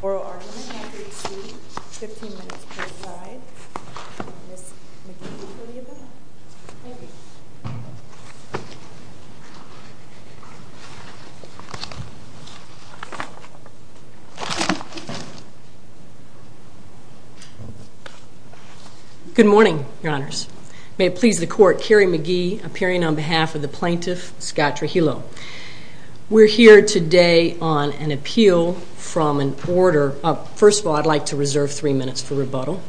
Oral argument, 1-3-2, 15 minutes per slide. Ms. McGee, will you do that? Good morning, your honors. May it please the court, Carrie McGee, appearing on behalf of the plaintiff, Scott Trujillo. We're here today on an appeal from an order. First of all, I'd like to reserve three minutes for rebuttal.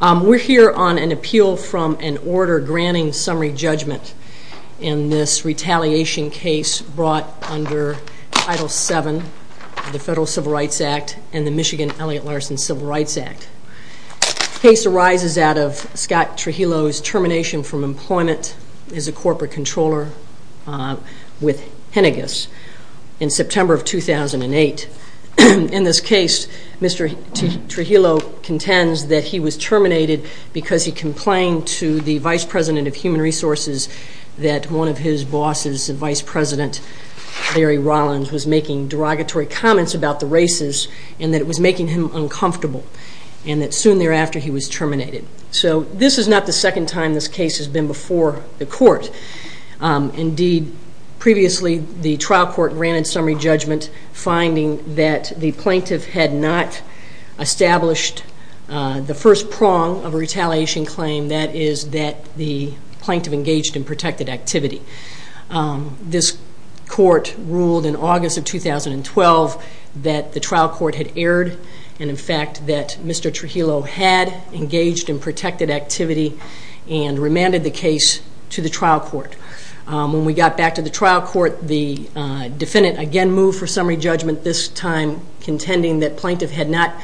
We're here on an appeal from an order granting summary judgment in this retaliation case brought under Title VII of the Federal Civil Rights Act and the Michigan Elliott Larson Civil Rights Act. The case arises out of Scott Trujillo's termination from employment as a corporate controller with Henniges in September of 2008. In this case, Mr. Trujillo contends that he was terminated because he complained to the Vice President of Human Resources that one of his bosses, the Vice President, Larry Rollins, was making derogatory comments about the races and that it was making him uncomfortable and that soon thereafter he was terminated. So this is not the second time this case has been before the court. Indeed, previously the trial court granted summary judgment finding that the plaintiff had not established the first prong of a retaliation claim, that is that the plaintiff engaged in protected activity. This court ruled in August of 2012 that the trial court had erred and in fact that Mr. Trujillo had engaged in protected activity and remanded the case to the trial court. When we got back to the trial court, the defendant again moved for summary judgment, this time contending that the plaintiff had not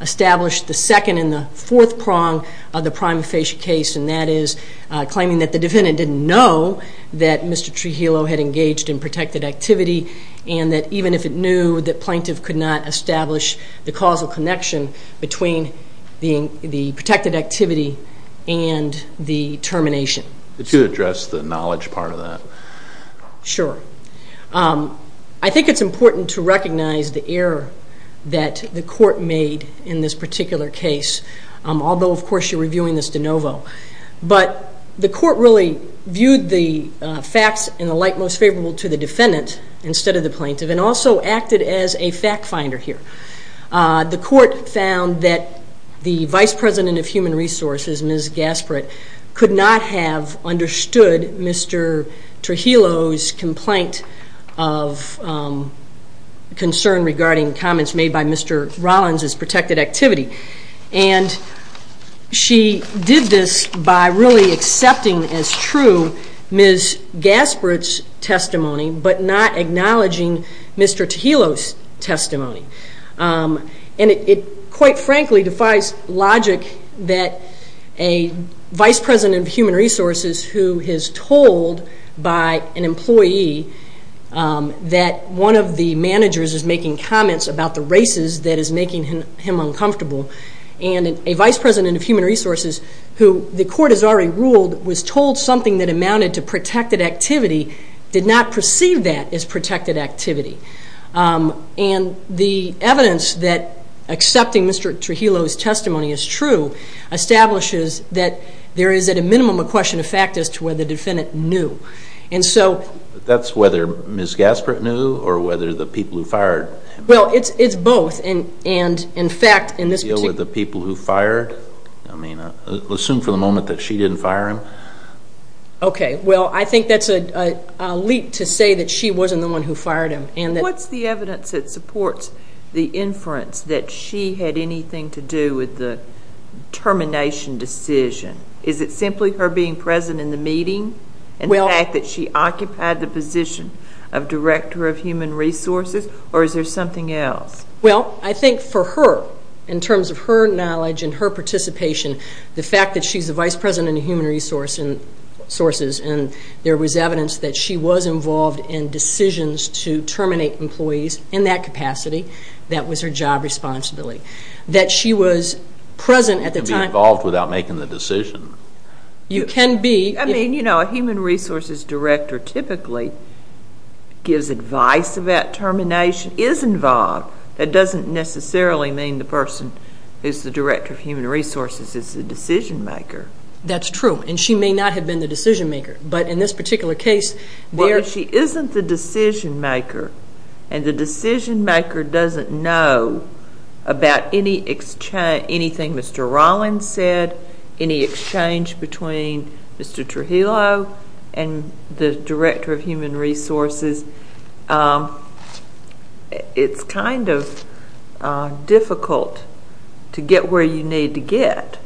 established the second and the fourth prong of the prima facie case and that is claiming that the defendant didn't know that Mr. Trujillo had engaged in protected activity and that even if it knew, the plaintiff could not establish the causal connection between the protected activity and the termination. Could you address the knowledge part of that? Sure. I think it's important to recognize the error that the court made in this particular case, although of course you're reviewing this de novo. But the court really viewed the facts in the light most favorable to the defendant instead of the plaintiff and also acted as a fact finder here. The court found that the Vice President of Human Resources, Ms. Gaspard, could not have understood Mr. Trujillo's complaint of concern regarding comments made by Mr. Rollins' protected activity and she did this by really accepting as true Ms. Gaspard's testimony but not acknowledging Mr. Trujillo's testimony. And it quite frankly defies logic that a Vice President of Human Resources who is told by an employee that one of the managers is making comments about the races that is making him uncomfortable and a Vice President of Human Resources who the court has already ruled was told something that amounted to protected activity did not perceive that as protected activity. And the evidence that accepting Mr. Trujillo's testimony is true establishes that there is at a minimum a question of fact as to whether the defendant knew. That's whether Ms. Gaspard knew or whether the people who fired him knew? Well, it's both. And in fact, in this particular case... The people who fired? I mean, assume for the moment that she didn't fire him? Okay, well I think that's a leap to say that she wasn't the one who fired him. What's the evidence that supports the inference that she had anything to do with the termination decision? Is it simply her being present in the meeting and the fact that she occupied the position of Director of Human Resources or is there something else? Well, I think for her, in terms of her knowledge and her participation, the fact that she's the Vice President of Human Resources and there was evidence that she was involved in decisions to terminate employees in that capacity, that was her job responsibility. That she was present at the time... You can't be involved without making the decision. You can be... I mean, you know, a Human Resources Director typically gives advice about termination, is involved. That doesn't necessarily mean the person who's the Director of Human Resources is the decision maker. That's true, and she may not have been the decision maker, but in this particular case... But if she isn't the decision maker and the decision maker doesn't know about anything Mr. Rollins said, any exchange between Mr. Trujillo and the Director of Human Resources, it's kind of difficult to get where you need to get.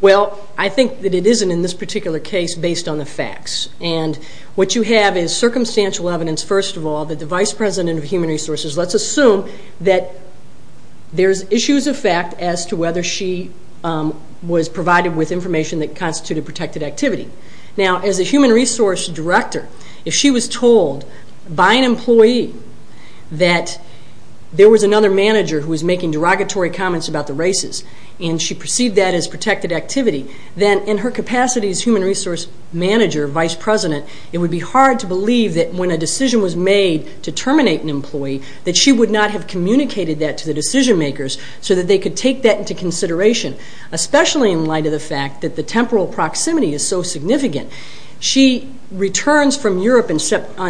Well, I think that it isn't in this particular case based on the facts. And what you have is circumstantial evidence, first of all, that the Vice President of Human Resources... Let's assume that there's issues of fact as to whether she was provided with information that constituted protected activity. Now, as a Human Resource Director, if she was told by an employee that there was another manager who was making derogatory comments and she perceived that as protected activity, then in her capacity as Human Resource Manager, Vice President, it would be hard to believe that when a decision was made to terminate an employee, that she would not have communicated that to the decision makers so that they could take that into consideration, especially in light of the fact that the temporal proximity is so significant. She returns from Europe on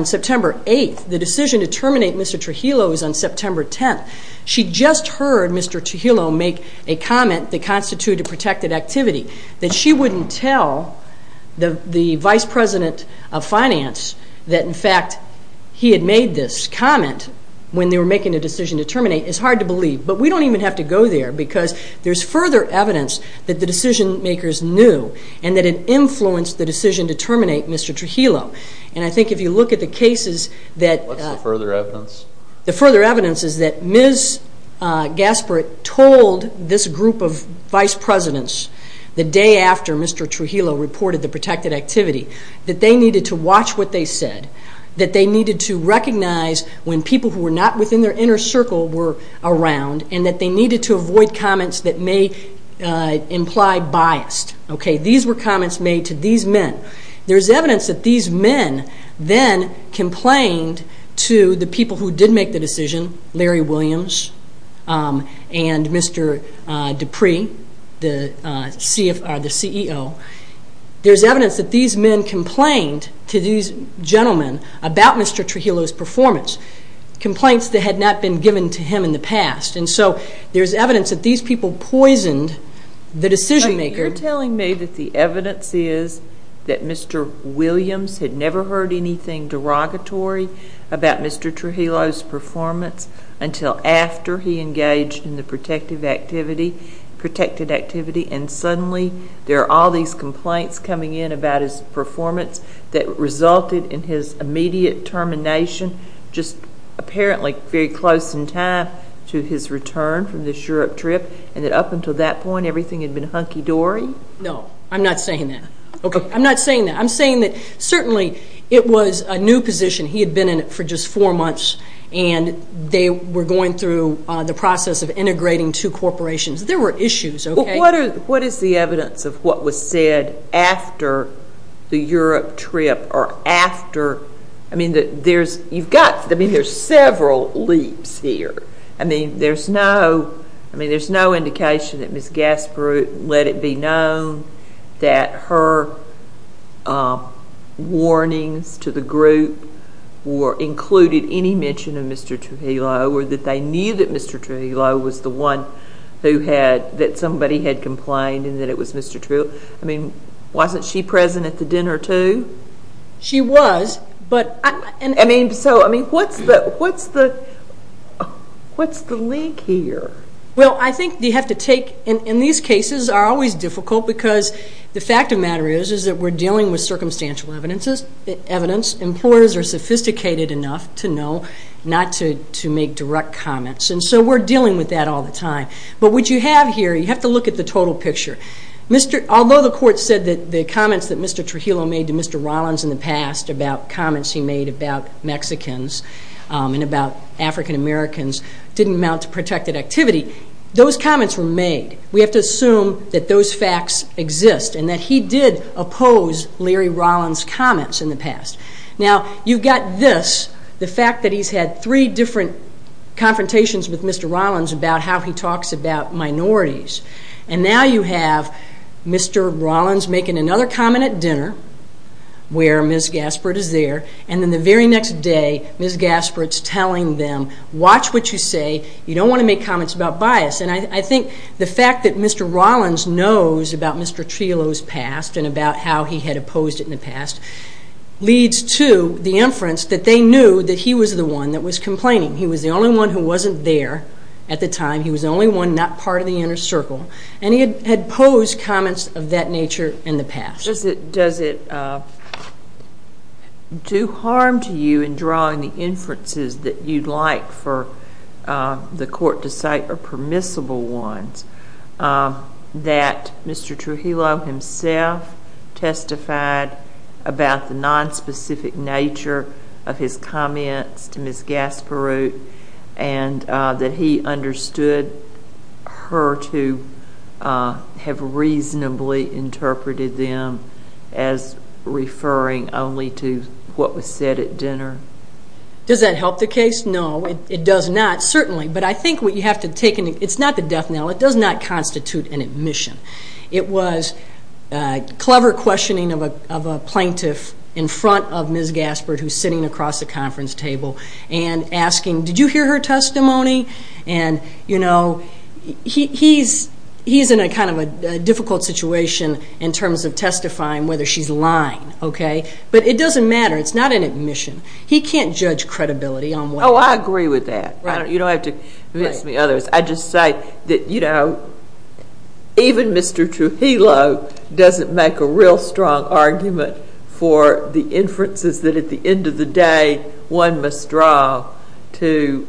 September 8th. The decision to terminate Mr. Trujillo is on September 10th. She just heard Mr. Trujillo make a comment that constituted protected activity. That she wouldn't tell the Vice President of Finance that, in fact, he had made this comment when they were making a decision to terminate is hard to believe. But we don't even have to go there because there's further evidence that the decision makers knew and that it influenced the decision to terminate Mr. Trujillo. And I think if you look at the cases that... What's the further evidence? The further evidence is that Ms. Gaspard told this group of Vice Presidents, the day after Mr. Trujillo reported the protected activity, that they needed to watch what they said, that they needed to recognize when people who were not within their inner circle were around, and that they needed to avoid comments that may imply bias. These were comments made to these men. There's evidence that these men then complained to the people who did make the decision, Larry Williams and Mr. Dupree, the CEO. There's evidence that these men complained to these gentlemen about Mr. Trujillo's performance, complaints that had not been given to him in the past. And so there's evidence that these people poisoned the decision maker. You're telling me that the evidence is that Mr. Williams had never heard anything derogatory about Mr. Trujillo's performance until after he engaged in the protected activity, and suddenly there are all these complaints coming in about his performance that resulted in his immediate termination, just apparently very close in time to his return from this Europe trip, and that up until that point everything had been hunky-dory? No, I'm not saying that. I'm not saying that. I'm saying that certainly it was a new position. He had been in it for just four months, and they were going through the process of integrating two corporations. There were issues, okay? What is the evidence of what was said after the Europe trip or after? I mean, there's several leaps here. I mean, there's no indication that Ms. Gasperu let it be known that her warnings to the group included any mention of Mr. Trujillo or that they knew that Mr. Trujillo was the one who had, that somebody had complained and that it was Mr. Trujillo. I mean, wasn't she present at the dinner too? She was. I mean, so what's the leak here? Well, I think you have to take, and these cases are always difficult because the fact of the matter is that we're dealing with circumstantial evidence. Employers are sophisticated enough to know not to make direct comments, and so we're dealing with that all the time. But what you have here, you have to look at the total picture. Although the court said that the comments that Mr. Trujillo made to Mr. Rollins in the past about comments he made about Mexicans and about African Americans didn't amount to protected activity, those comments were made. We have to assume that those facts exist and that he did oppose Larry Rollins' comments in the past. Now, you've got this, the fact that he's had three different confrontations with Mr. Rollins about how he talks about minorities. And now you have Mr. Rollins making another comment at dinner where Ms. Gaspard is there, and then the very next day Ms. Gaspard's telling them, watch what you say, you don't want to make comments about bias. And I think the fact that Mr. Rollins knows about Mr. Trujillo's past and about how he had opposed it in the past leads to the inference that they knew that he was the one that was complaining. He was the only one who wasn't there at the time. He was the only one not part of the inner circle. And he had opposed comments of that nature in the past. Does it do harm to you in drawing the inferences that you'd like for the court to cite or permissible ones that Mr. Trujillo himself testified about the nonspecific nature of his comments to Ms. Gaspard and that he understood her to have reasonably interpreted them as referring only to what was said at dinner? Does that help the case? No, it does not, certainly. But I think what you have to take in, it's not the death knell. It does not constitute an admission. It was clever questioning of a plaintiff in front of Ms. Gaspard, who's sitting across the conference table, and asking, did you hear her testimony? And, you know, he's in kind of a difficult situation in terms of testifying whether she's lying, okay? But it doesn't matter. It's not an admission. He can't judge credibility on what he said. Oh, I agree with that. You don't have to convince me of others. I just say that, you know, even Mr. Trujillo doesn't make a real strong argument for the inferences that at the end of the day one must draw to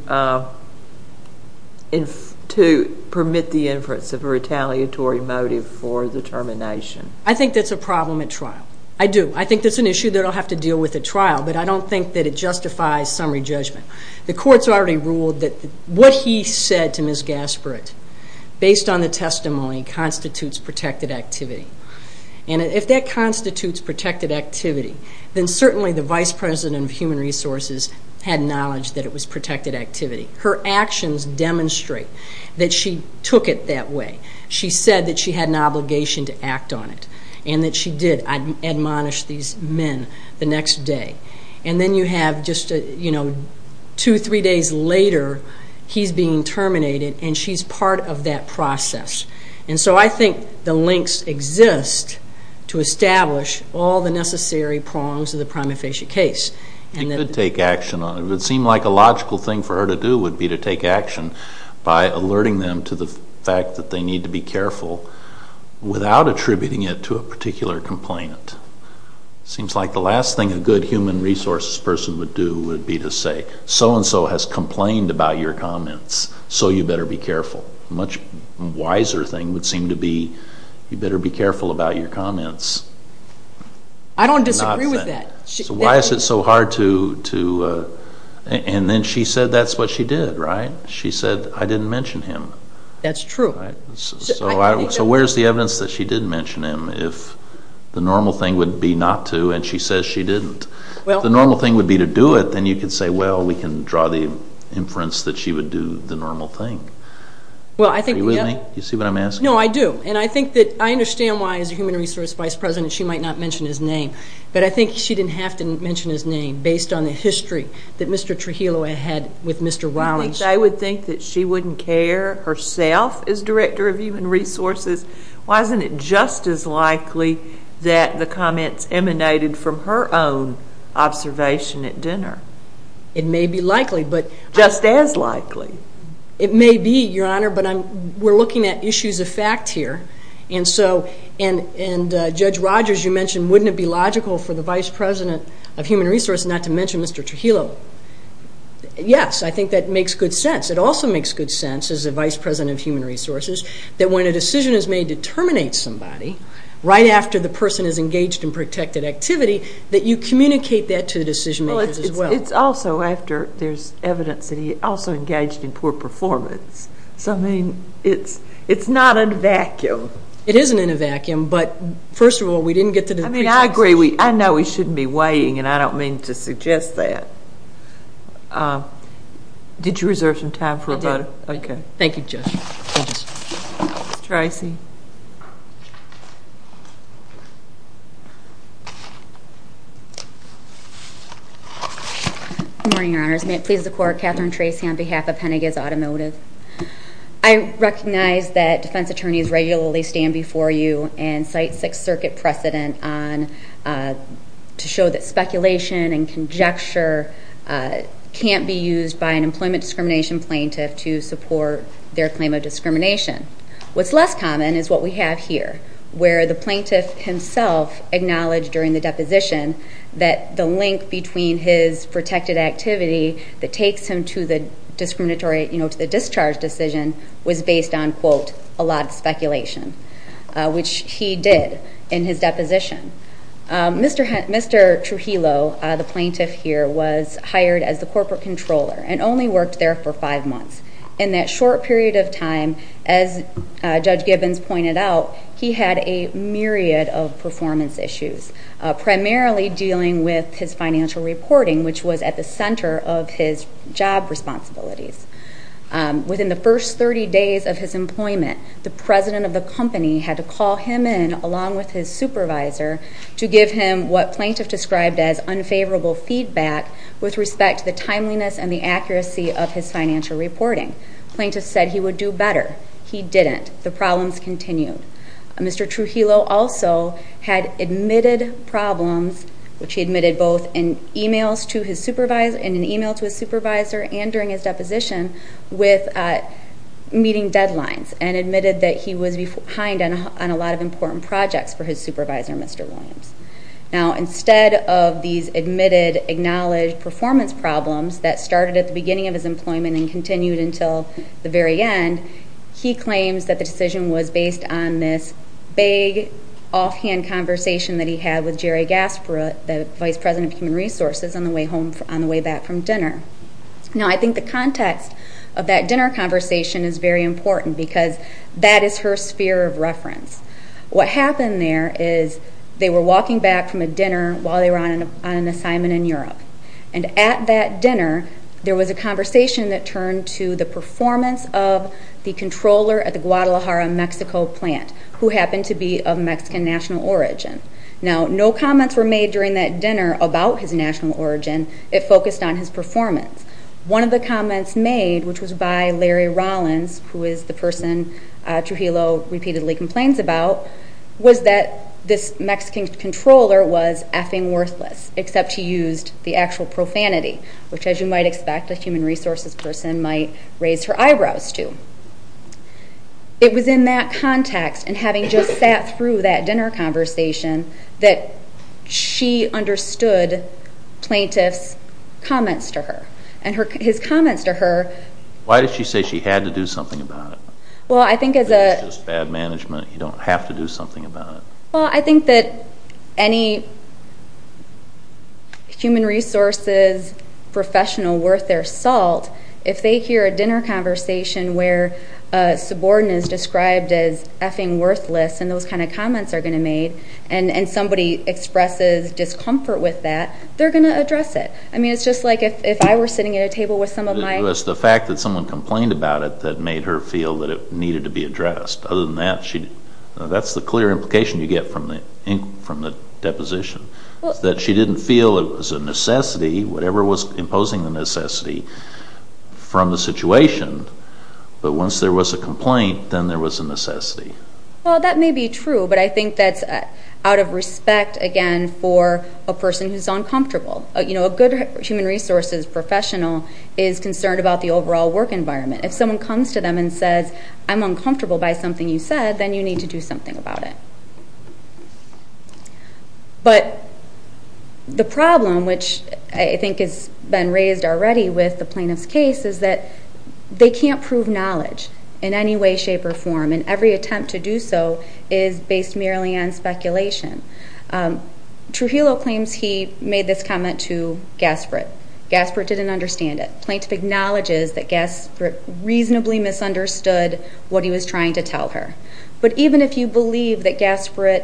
permit the inference of a retaliatory motive for the termination. I think that's a problem at trial. I do. I think that's an issue that I'll have to deal with at trial, but I don't think that it justifies summary judgment. The court's already ruled that what he said to Ms. Gaspard, based on the testimony, constitutes protected activity. And if that constitutes protected activity, then certainly the vice president of human resources had knowledge that it was protected activity. Her actions demonstrate that she took it that way. She said that she had an obligation to act on it, and that she did admonish these men the next day. And then you have just, you know, two, three days later, he's being terminated and she's part of that process. And so I think the links exist to establish all the necessary prongs of the prima facie case. It would seem like a logical thing for her to do would be to take action by alerting them to the fact that they need to be careful without attributing it to a particular complainant. It seems like the last thing a good human resources person would do would be to say, so-and-so has complained about your comments, so you better be careful. A much wiser thing would seem to be, you better be careful about your comments. I don't disagree with that. So why is it so hard to, and then she said that's what she did, right? She said, I didn't mention him. That's true. So where's the evidence that she did mention him if the normal thing would be not to, and she says she didn't? If the normal thing would be to do it, then you could say, well, we can draw the inference that she would do the normal thing. Are you with me? Do you see what I'm asking? No, I do. And I think that I understand why, as a human resources vice president, she might not mention his name. But I think she didn't have to mention his name based on the history that Mr. Trujillo had with Mr. Rawlings. I think they would think that she wouldn't care herself as director of human resources. Why isn't it just as likely that the comments emanated from her own observation at dinner? It may be likely. Just as likely. It may be, Your Honor, but we're looking at issues of fact here. And Judge Rogers, you mentioned, wouldn't it be logical for the vice president of human resources not to mention Mr. Trujillo? Yes, I think that makes good sense. It also makes good sense, as a vice president of human resources, that when a decision is made to terminate somebody, right after the person is engaged in protected activity, that you communicate that to the decision-makers as well. It's also after there's evidence that he also engaged in poor performance. So, I mean, it's not in a vacuum. It isn't in a vacuum. I agree. I know we shouldn't be waiting, and I don't mean to suggest that. Did you reserve some time for a vote? I did. Okay. Thank you, Judge. Thank you, Judge. Tracy. Good morning, Your Honors. May it please the Court, Catherine Tracy on behalf of Pennington's Automotive. I recognize that defense attorneys regularly stand before you and cite Sixth Circuit precedent to show that speculation and conjecture can't be used by an employment discrimination plaintiff to support their claim of discrimination. What's less common is what we have here, where the plaintiff himself acknowledged during the deposition that the link between his protected activity that takes him to the discharge decision was based on, quote, a lot of speculation, which he did in his deposition. Mr. Trujillo, the plaintiff here, was hired as the corporate controller and only worked there for five months. In that short period of time, as Judge Gibbons pointed out, he had a myriad of performance issues, primarily dealing with his financial reporting, which was at the center of his job responsibilities. Within the first 30 days of his employment, the president of the company had to call him in, along with his supervisor, to give him what plaintiff described as unfavorable feedback with respect to the timeliness and the accuracy of his financial reporting. Plaintiff said he would do better. He didn't. The problems continued. Mr. Trujillo also had admitted problems, which he admitted both in an e-mail to his supervisor and during his deposition with meeting deadlines, and admitted that he was behind on a lot of important projects for his supervisor, Mr. Williams. Now, instead of these admitted, acknowledged performance problems that started at the beginning of his employment and continued until the very end, he claims that the decision was based on this vague offhand conversation that he had with Jerry Gasparut, the vice president of human resources, on the way back from dinner. Now, I think the context of that dinner conversation is very important because that is her sphere of reference. What happened there is they were walking back from a dinner while they were on an assignment in Europe, and at that dinner there was a conversation that turned to the performance of the controller at the Guadalajara, Mexico plant, who happened to be of Mexican national origin. Now, no comments were made during that dinner about his national origin. It focused on his performance. One of the comments made, which was by Larry Rollins, who is the person Trujillo repeatedly complains about, was that this Mexican controller was effing worthless, except he used the actual profanity, which, as you might expect, a human resources person might raise her eyebrows to. It was in that context and having just sat through that dinner conversation that she understood plaintiff's comments to her. And his comments to her... Why did she say she had to do something about it? Well, I think as a... You don't have to do something about it. Well, I think that any human resources professional worth their salt, if they hear a dinner conversation where a subordinate is described as effing worthless and those kind of comments are going to be made, and somebody expresses discomfort with that, they're going to address it. I mean, it's just like if I were sitting at a table with some of my... It's the fact that someone complained about it that made her feel that it needed to be addressed. Other than that, that's the clear implication you get from the deposition, that she didn't feel it was a necessity, whatever was imposing the necessity, from the situation, but once there was a complaint, then there was a necessity. Well, that may be true, but I think that's out of respect, again, for a person who's uncomfortable. You know, a good human resources professional is concerned about the overall work environment. If someone comes to them and says, I'm uncomfortable by something you said, then you need to do something about it. But the problem, which I think has been raised already with the plaintiff's case, is that they can't prove knowledge in any way, shape, or form, and every attempt to do so is based merely on speculation. Trujillo claims he made this comment to Gaspard. Gaspard didn't understand it. The plaintiff acknowledges that Gaspard reasonably misunderstood what he was trying to tell her. But even if you believe that Gaspard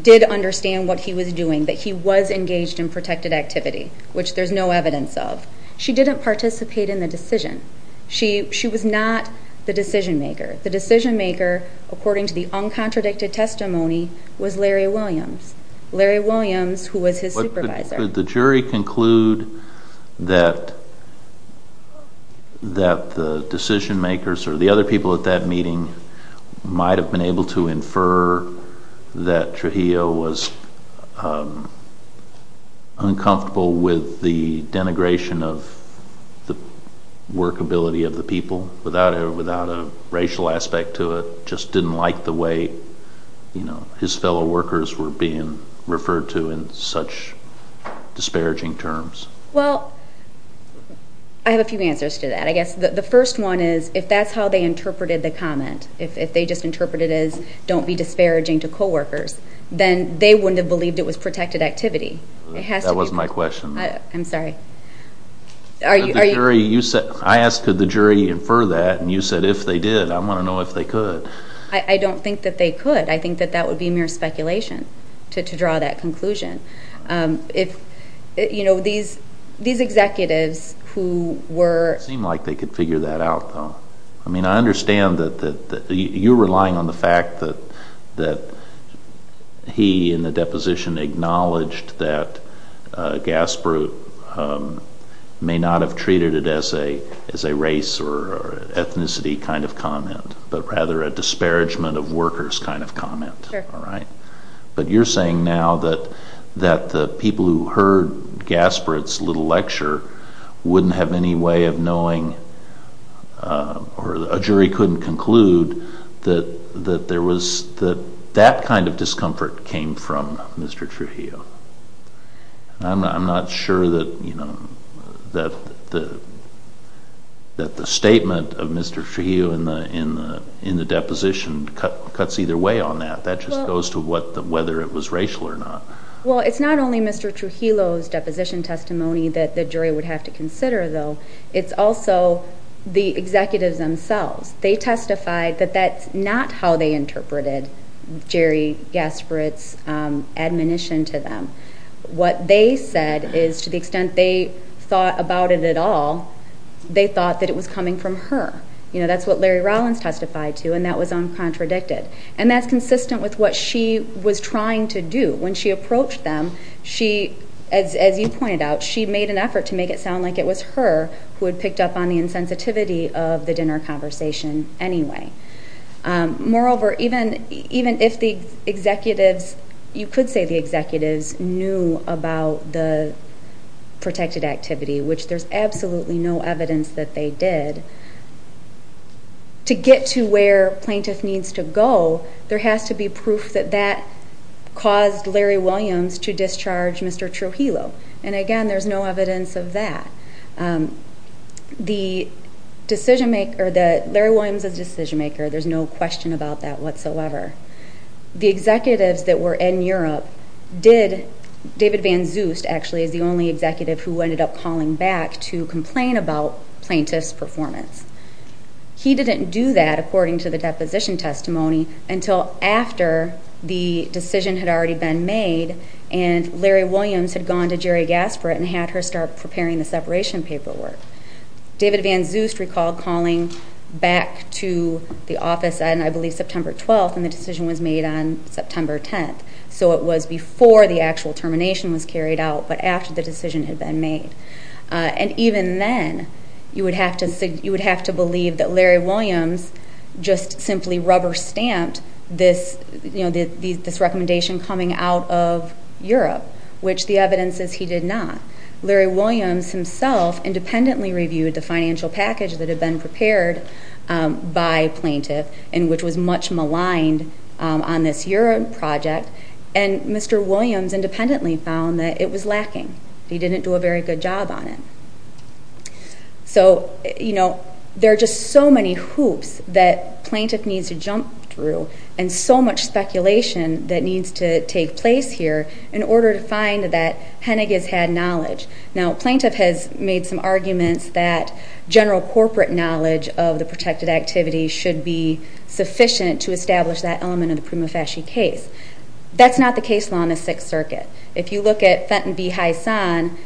did understand what he was doing, that he was engaged in protected activity, which there's no evidence of, she didn't participate in the decision. She was not the decision-maker. The decision-maker, according to the uncontradicted testimony, was Larry Williams. Larry Williams, who was his supervisor. Could the jury conclude that the decision-makers or the other people at that meeting might have been able to infer that Trujillo was uncomfortable with the denigration of the workability of the people without a racial aspect to it, and just didn't like the way his fellow workers were being referred to in such disparaging terms? Well, I have a few answers to that. I guess the first one is if that's how they interpreted the comment, if they just interpreted it as don't be disparaging to coworkers, then they wouldn't have believed it was protected activity. That wasn't my question. I'm sorry. I asked could the jury infer that, and you said if they did, I want to know if they could. I don't think that they could. I think that that would be mere speculation to draw that conclusion. These executives who were... It seemed like they could figure that out, though. I mean, I understand that you're relying on the fact that he, in the deposition, acknowledged that Gaspard may not have treated it as a race or ethnicity kind of comment, but rather a disparagement of workers kind of comment. But you're saying now that the people who heard Gaspard's little lecture wouldn't have any way of knowing or a jury couldn't conclude that that kind of discomfort came from Mr. Trujillo. I'm not sure that the statement of Mr. Trujillo in the deposition cuts either way on that. That just goes to whether it was racial or not. Well, it's not only Mr. Trujillo's deposition testimony that the jury would have to consider, though. It's also the executives themselves. They testified that that's not how they interpreted Jerry Gaspard's admonition to them. What they said is, to the extent they thought about it at all, they thought that it was coming from her. That's what Larry Rollins testified to, and that was uncontradicted. And that's consistent with what she was trying to do. When she approached them, as you pointed out, she made an effort to make it sound like it was her who had picked up on the insensitivity of the dinner conversation anyway. Moreover, even if the executives, you could say the executives, knew about the protected activity, which there's absolutely no evidence that they did, to get to where plaintiff needs to go, there has to be proof that that caused Larry Williams to discharge Mr. Trujillo. And, again, there's no evidence of that. Larry Williams is a decision-maker. There's no question about that whatsoever. The executives that were in Europe did. David Van Zust, actually, is the only executive who ended up calling back to complain about plaintiff's performance. He didn't do that, according to the deposition testimony, until after the decision had already been made, and Larry Williams had gone to Jerry Gaspard and had her start preparing the separation paperwork. David Van Zust recalled calling back to the office on, I believe, September 12th, and the decision was made on September 10th. So it was before the actual termination was carried out, but after the decision had been made. And even then, you would have to believe that Larry Williams just simply rubber-stamped this recommendation coming out of Europe, which the evidence is he did not. Larry Williams himself independently reviewed the financial package that had been prepared by plaintiff, and which was much maligned on this Europe project, and Mr. Williams independently found that it was lacking. He didn't do a very good job on it. So, you know, there are just so many hoops that plaintiff needs to jump through, and so much speculation that needs to take place here in order to find that Hennig has had knowledge. Now, plaintiff has made some arguments that general corporate knowledge of the protected activity should be sufficient to establish that element of the Prima Fasci case. If you look at Fenton B. Heysan,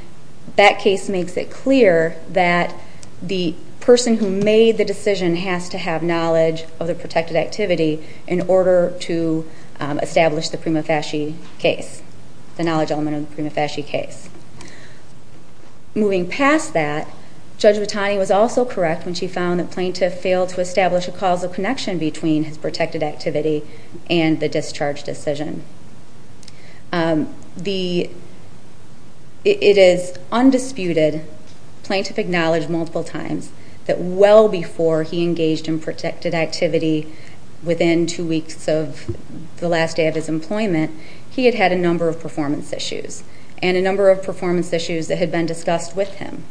that case makes it clear that the person who made the decision has to have knowledge of the protected activity in order to establish the Prima Fasci case, the knowledge element of the Prima Fasci case. Moving past that, Judge Vitani was also correct when she found the plaintiff failed to establish a causal connection between his protected activity and the discharge decision. It is undisputed, plaintiff acknowledged multiple times, that well before he engaged in protected activity within two weeks of the last day of his employment, he had had a number of performance issues, and a number of performance issues that had been discussed with him.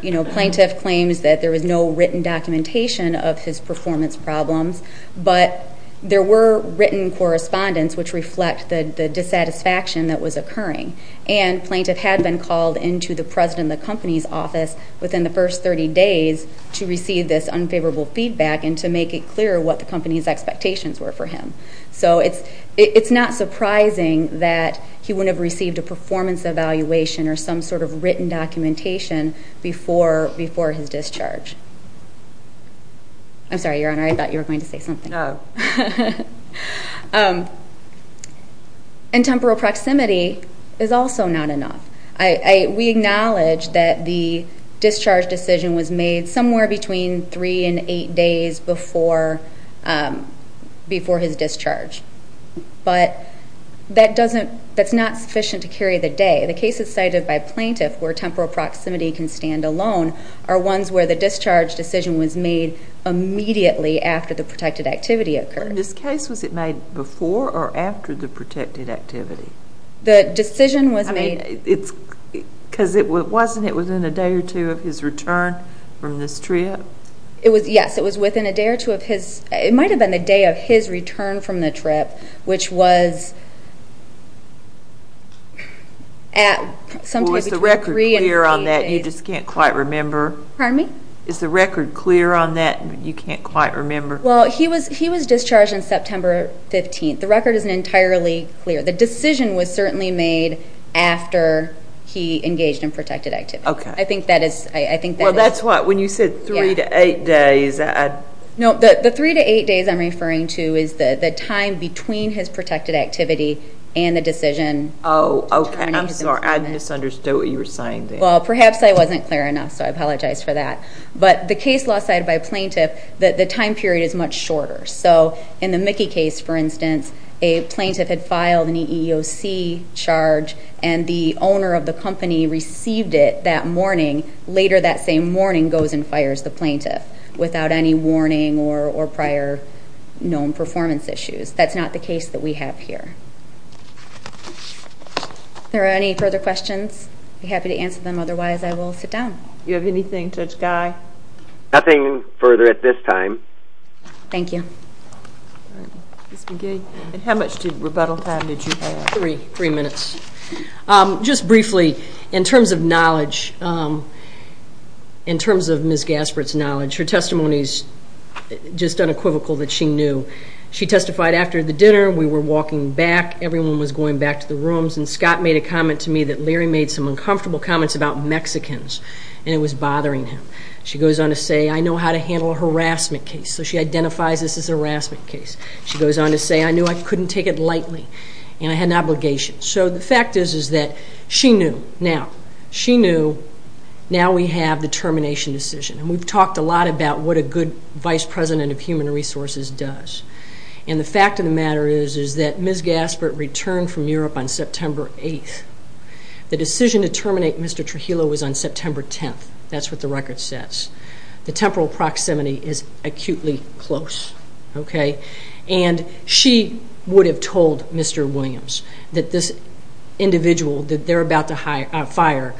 You know, plaintiff claims that there was no written documentation of his performance problems, but there were written correspondence which reflect the dissatisfaction that was occurring. And plaintiff had been called into the president of the company's office within the first 30 days to receive this unfavorable feedback and to make it clear what the company's expectations were for him. So it's not surprising that he wouldn't have received a performance evaluation or some sort of written documentation before his discharge. I'm sorry, Your Honor, I thought you were going to say something. No. And temporal proximity is also not enough. We acknowledge that the discharge decision was made somewhere between three and eight days before his discharge. But that's not sufficient to carry the day. The cases cited by plaintiff where temporal proximity can stand alone are ones where the discharge decision was made immediately after the protected activity occurred. In this case, was it made before or after the protected activity? The decision was made. Because wasn't it within a day or two of his return from this trip? Yes, it was within a day or two of his. It might have been the day of his return from the trip, which was at some time between three and eight days. Is the record clear on that? You just can't quite remember. Pardon me? Is the record clear on that? You can't quite remember. Well, he was discharged on September 15th. The record isn't entirely clear. The decision was certainly made after he engaged in protected activity. Okay. I think that is. Well, that's what, when you said three to eight days. No, the three to eight days I'm referring to is the time between his protected activity and the decision. Oh, okay. I'm sorry. I misunderstood what you were saying there. Well, perhaps I wasn't clear enough, so I apologize for that. But the case law cited by a plaintiff, the time period is much shorter. So in the Mickey case, for instance, a plaintiff had filed an EEOC charge, and the owner of the company received it that morning. Later that same morning goes and fires the plaintiff without any warning or prior known performance issues. That's not the case that we have here. If there are any further questions, I'd be happy to answer them. Otherwise, I will sit down. Do you have anything, Judge Guy? Nothing further at this time. Thank you. Ms. McGee, how much rebuttal time did you have? Three minutes. Just briefly, in terms of knowledge, in terms of Ms. Gaspert's knowledge, her testimony is just unequivocal that she knew. She testified after the dinner. We were walking back. Everyone was going back to the rooms. And Scott made a comment to me that Larry made some uncomfortable comments about Mexicans, and it was bothering him. She goes on to say, I know how to handle a harassment case. So she identifies this as a harassment case. She goes on to say, I knew I couldn't take it lightly, and I had an obligation. So the fact is that she knew. Now, she knew. Now we have the termination decision. We've talked a lot about what a good Vice President of Human Resources does. And the fact of the matter is that Ms. Gaspert returned from Europe on September 8th. The decision to terminate Mr. Trujillo was on September 10th. That's what the record says. The temporal proximity is acutely close. And she would have told Mr. Williams that this individual that they're about to fire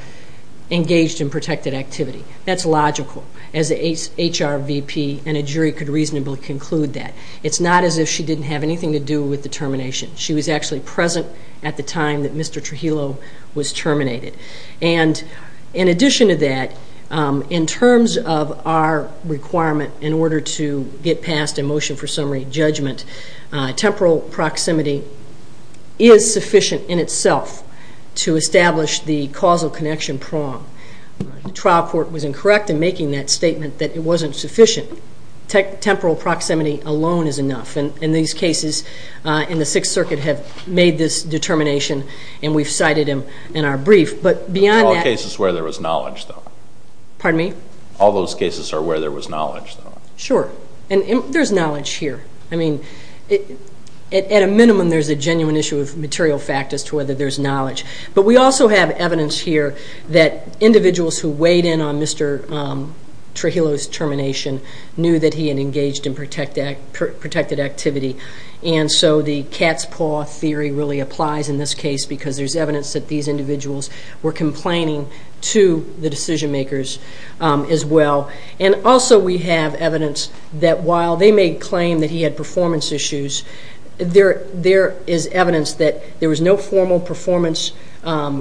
engaged in protected activity. That's logical, as an HR VP and a jury could reasonably conclude that. It's not as if she didn't have anything to do with the termination. She was actually present at the time that Mr. Trujillo was terminated. And in addition to that, in terms of our requirement in order to get past a motion for summary judgment, temporal proximity is sufficient in itself to establish the causal connection prong. The trial court was incorrect in making that statement that it wasn't sufficient. Temporal proximity alone is enough. And these cases in the Sixth Circuit have made this determination, and we've cited them in our brief. But beyond that – There were all cases where there was knowledge, though. Pardon me? All those cases are where there was knowledge, though. Sure. And there's knowledge here. I mean, at a minimum, there's a genuine issue of material fact as to whether there's knowledge. But we also have evidence here that individuals who weighed in on Mr. Trujillo's termination knew that he had engaged in protected activity. And so the cat's paw theory really applies in this case because there's evidence that these individuals were complaining to the decision-makers as well. And also we have evidence that while they may claim that he had performance issues, there is evidence that there was no formal performance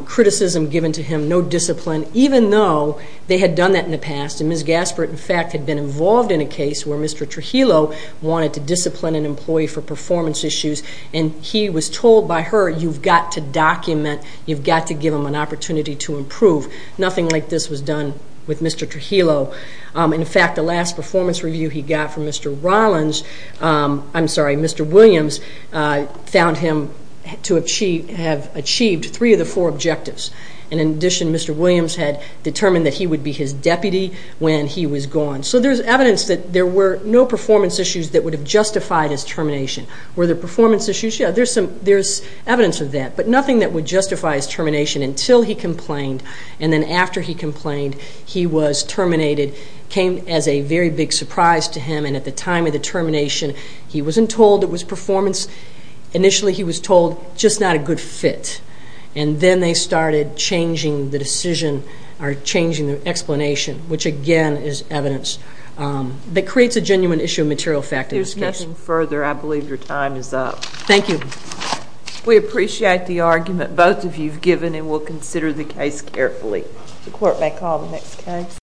criticism given to him, no discipline, even though they had done that in the past. And Ms. Gaspert, in fact, had been involved in a case where Mr. Trujillo wanted to discipline an employee for performance issues, and he was told by her, you've got to document, you've got to give them an opportunity to improve. Nothing like this was done with Mr. Trujillo. In fact, the last performance review he got from Mr. Williams found him to have achieved three of the four objectives. And in addition, Mr. Williams had determined that he would be his deputy when he was gone. So there's evidence that there were no performance issues that would have justified his termination. Were there performance issues? Yeah, there's evidence of that, but nothing that would justify his termination until he complained. And then after he complained, he was terminated, came as a very big surprise to him, and at the time of the termination he wasn't told it was performance. Initially he was told just not a good fit, and then they started changing the decision or changing the explanation, which again is evidence that creates a genuine issue of material fact in this case. If there's nothing further, I believe your time is up. Thank you. We appreciate the argument both of you have given, and we'll consider the case carefully. The court may call the next case.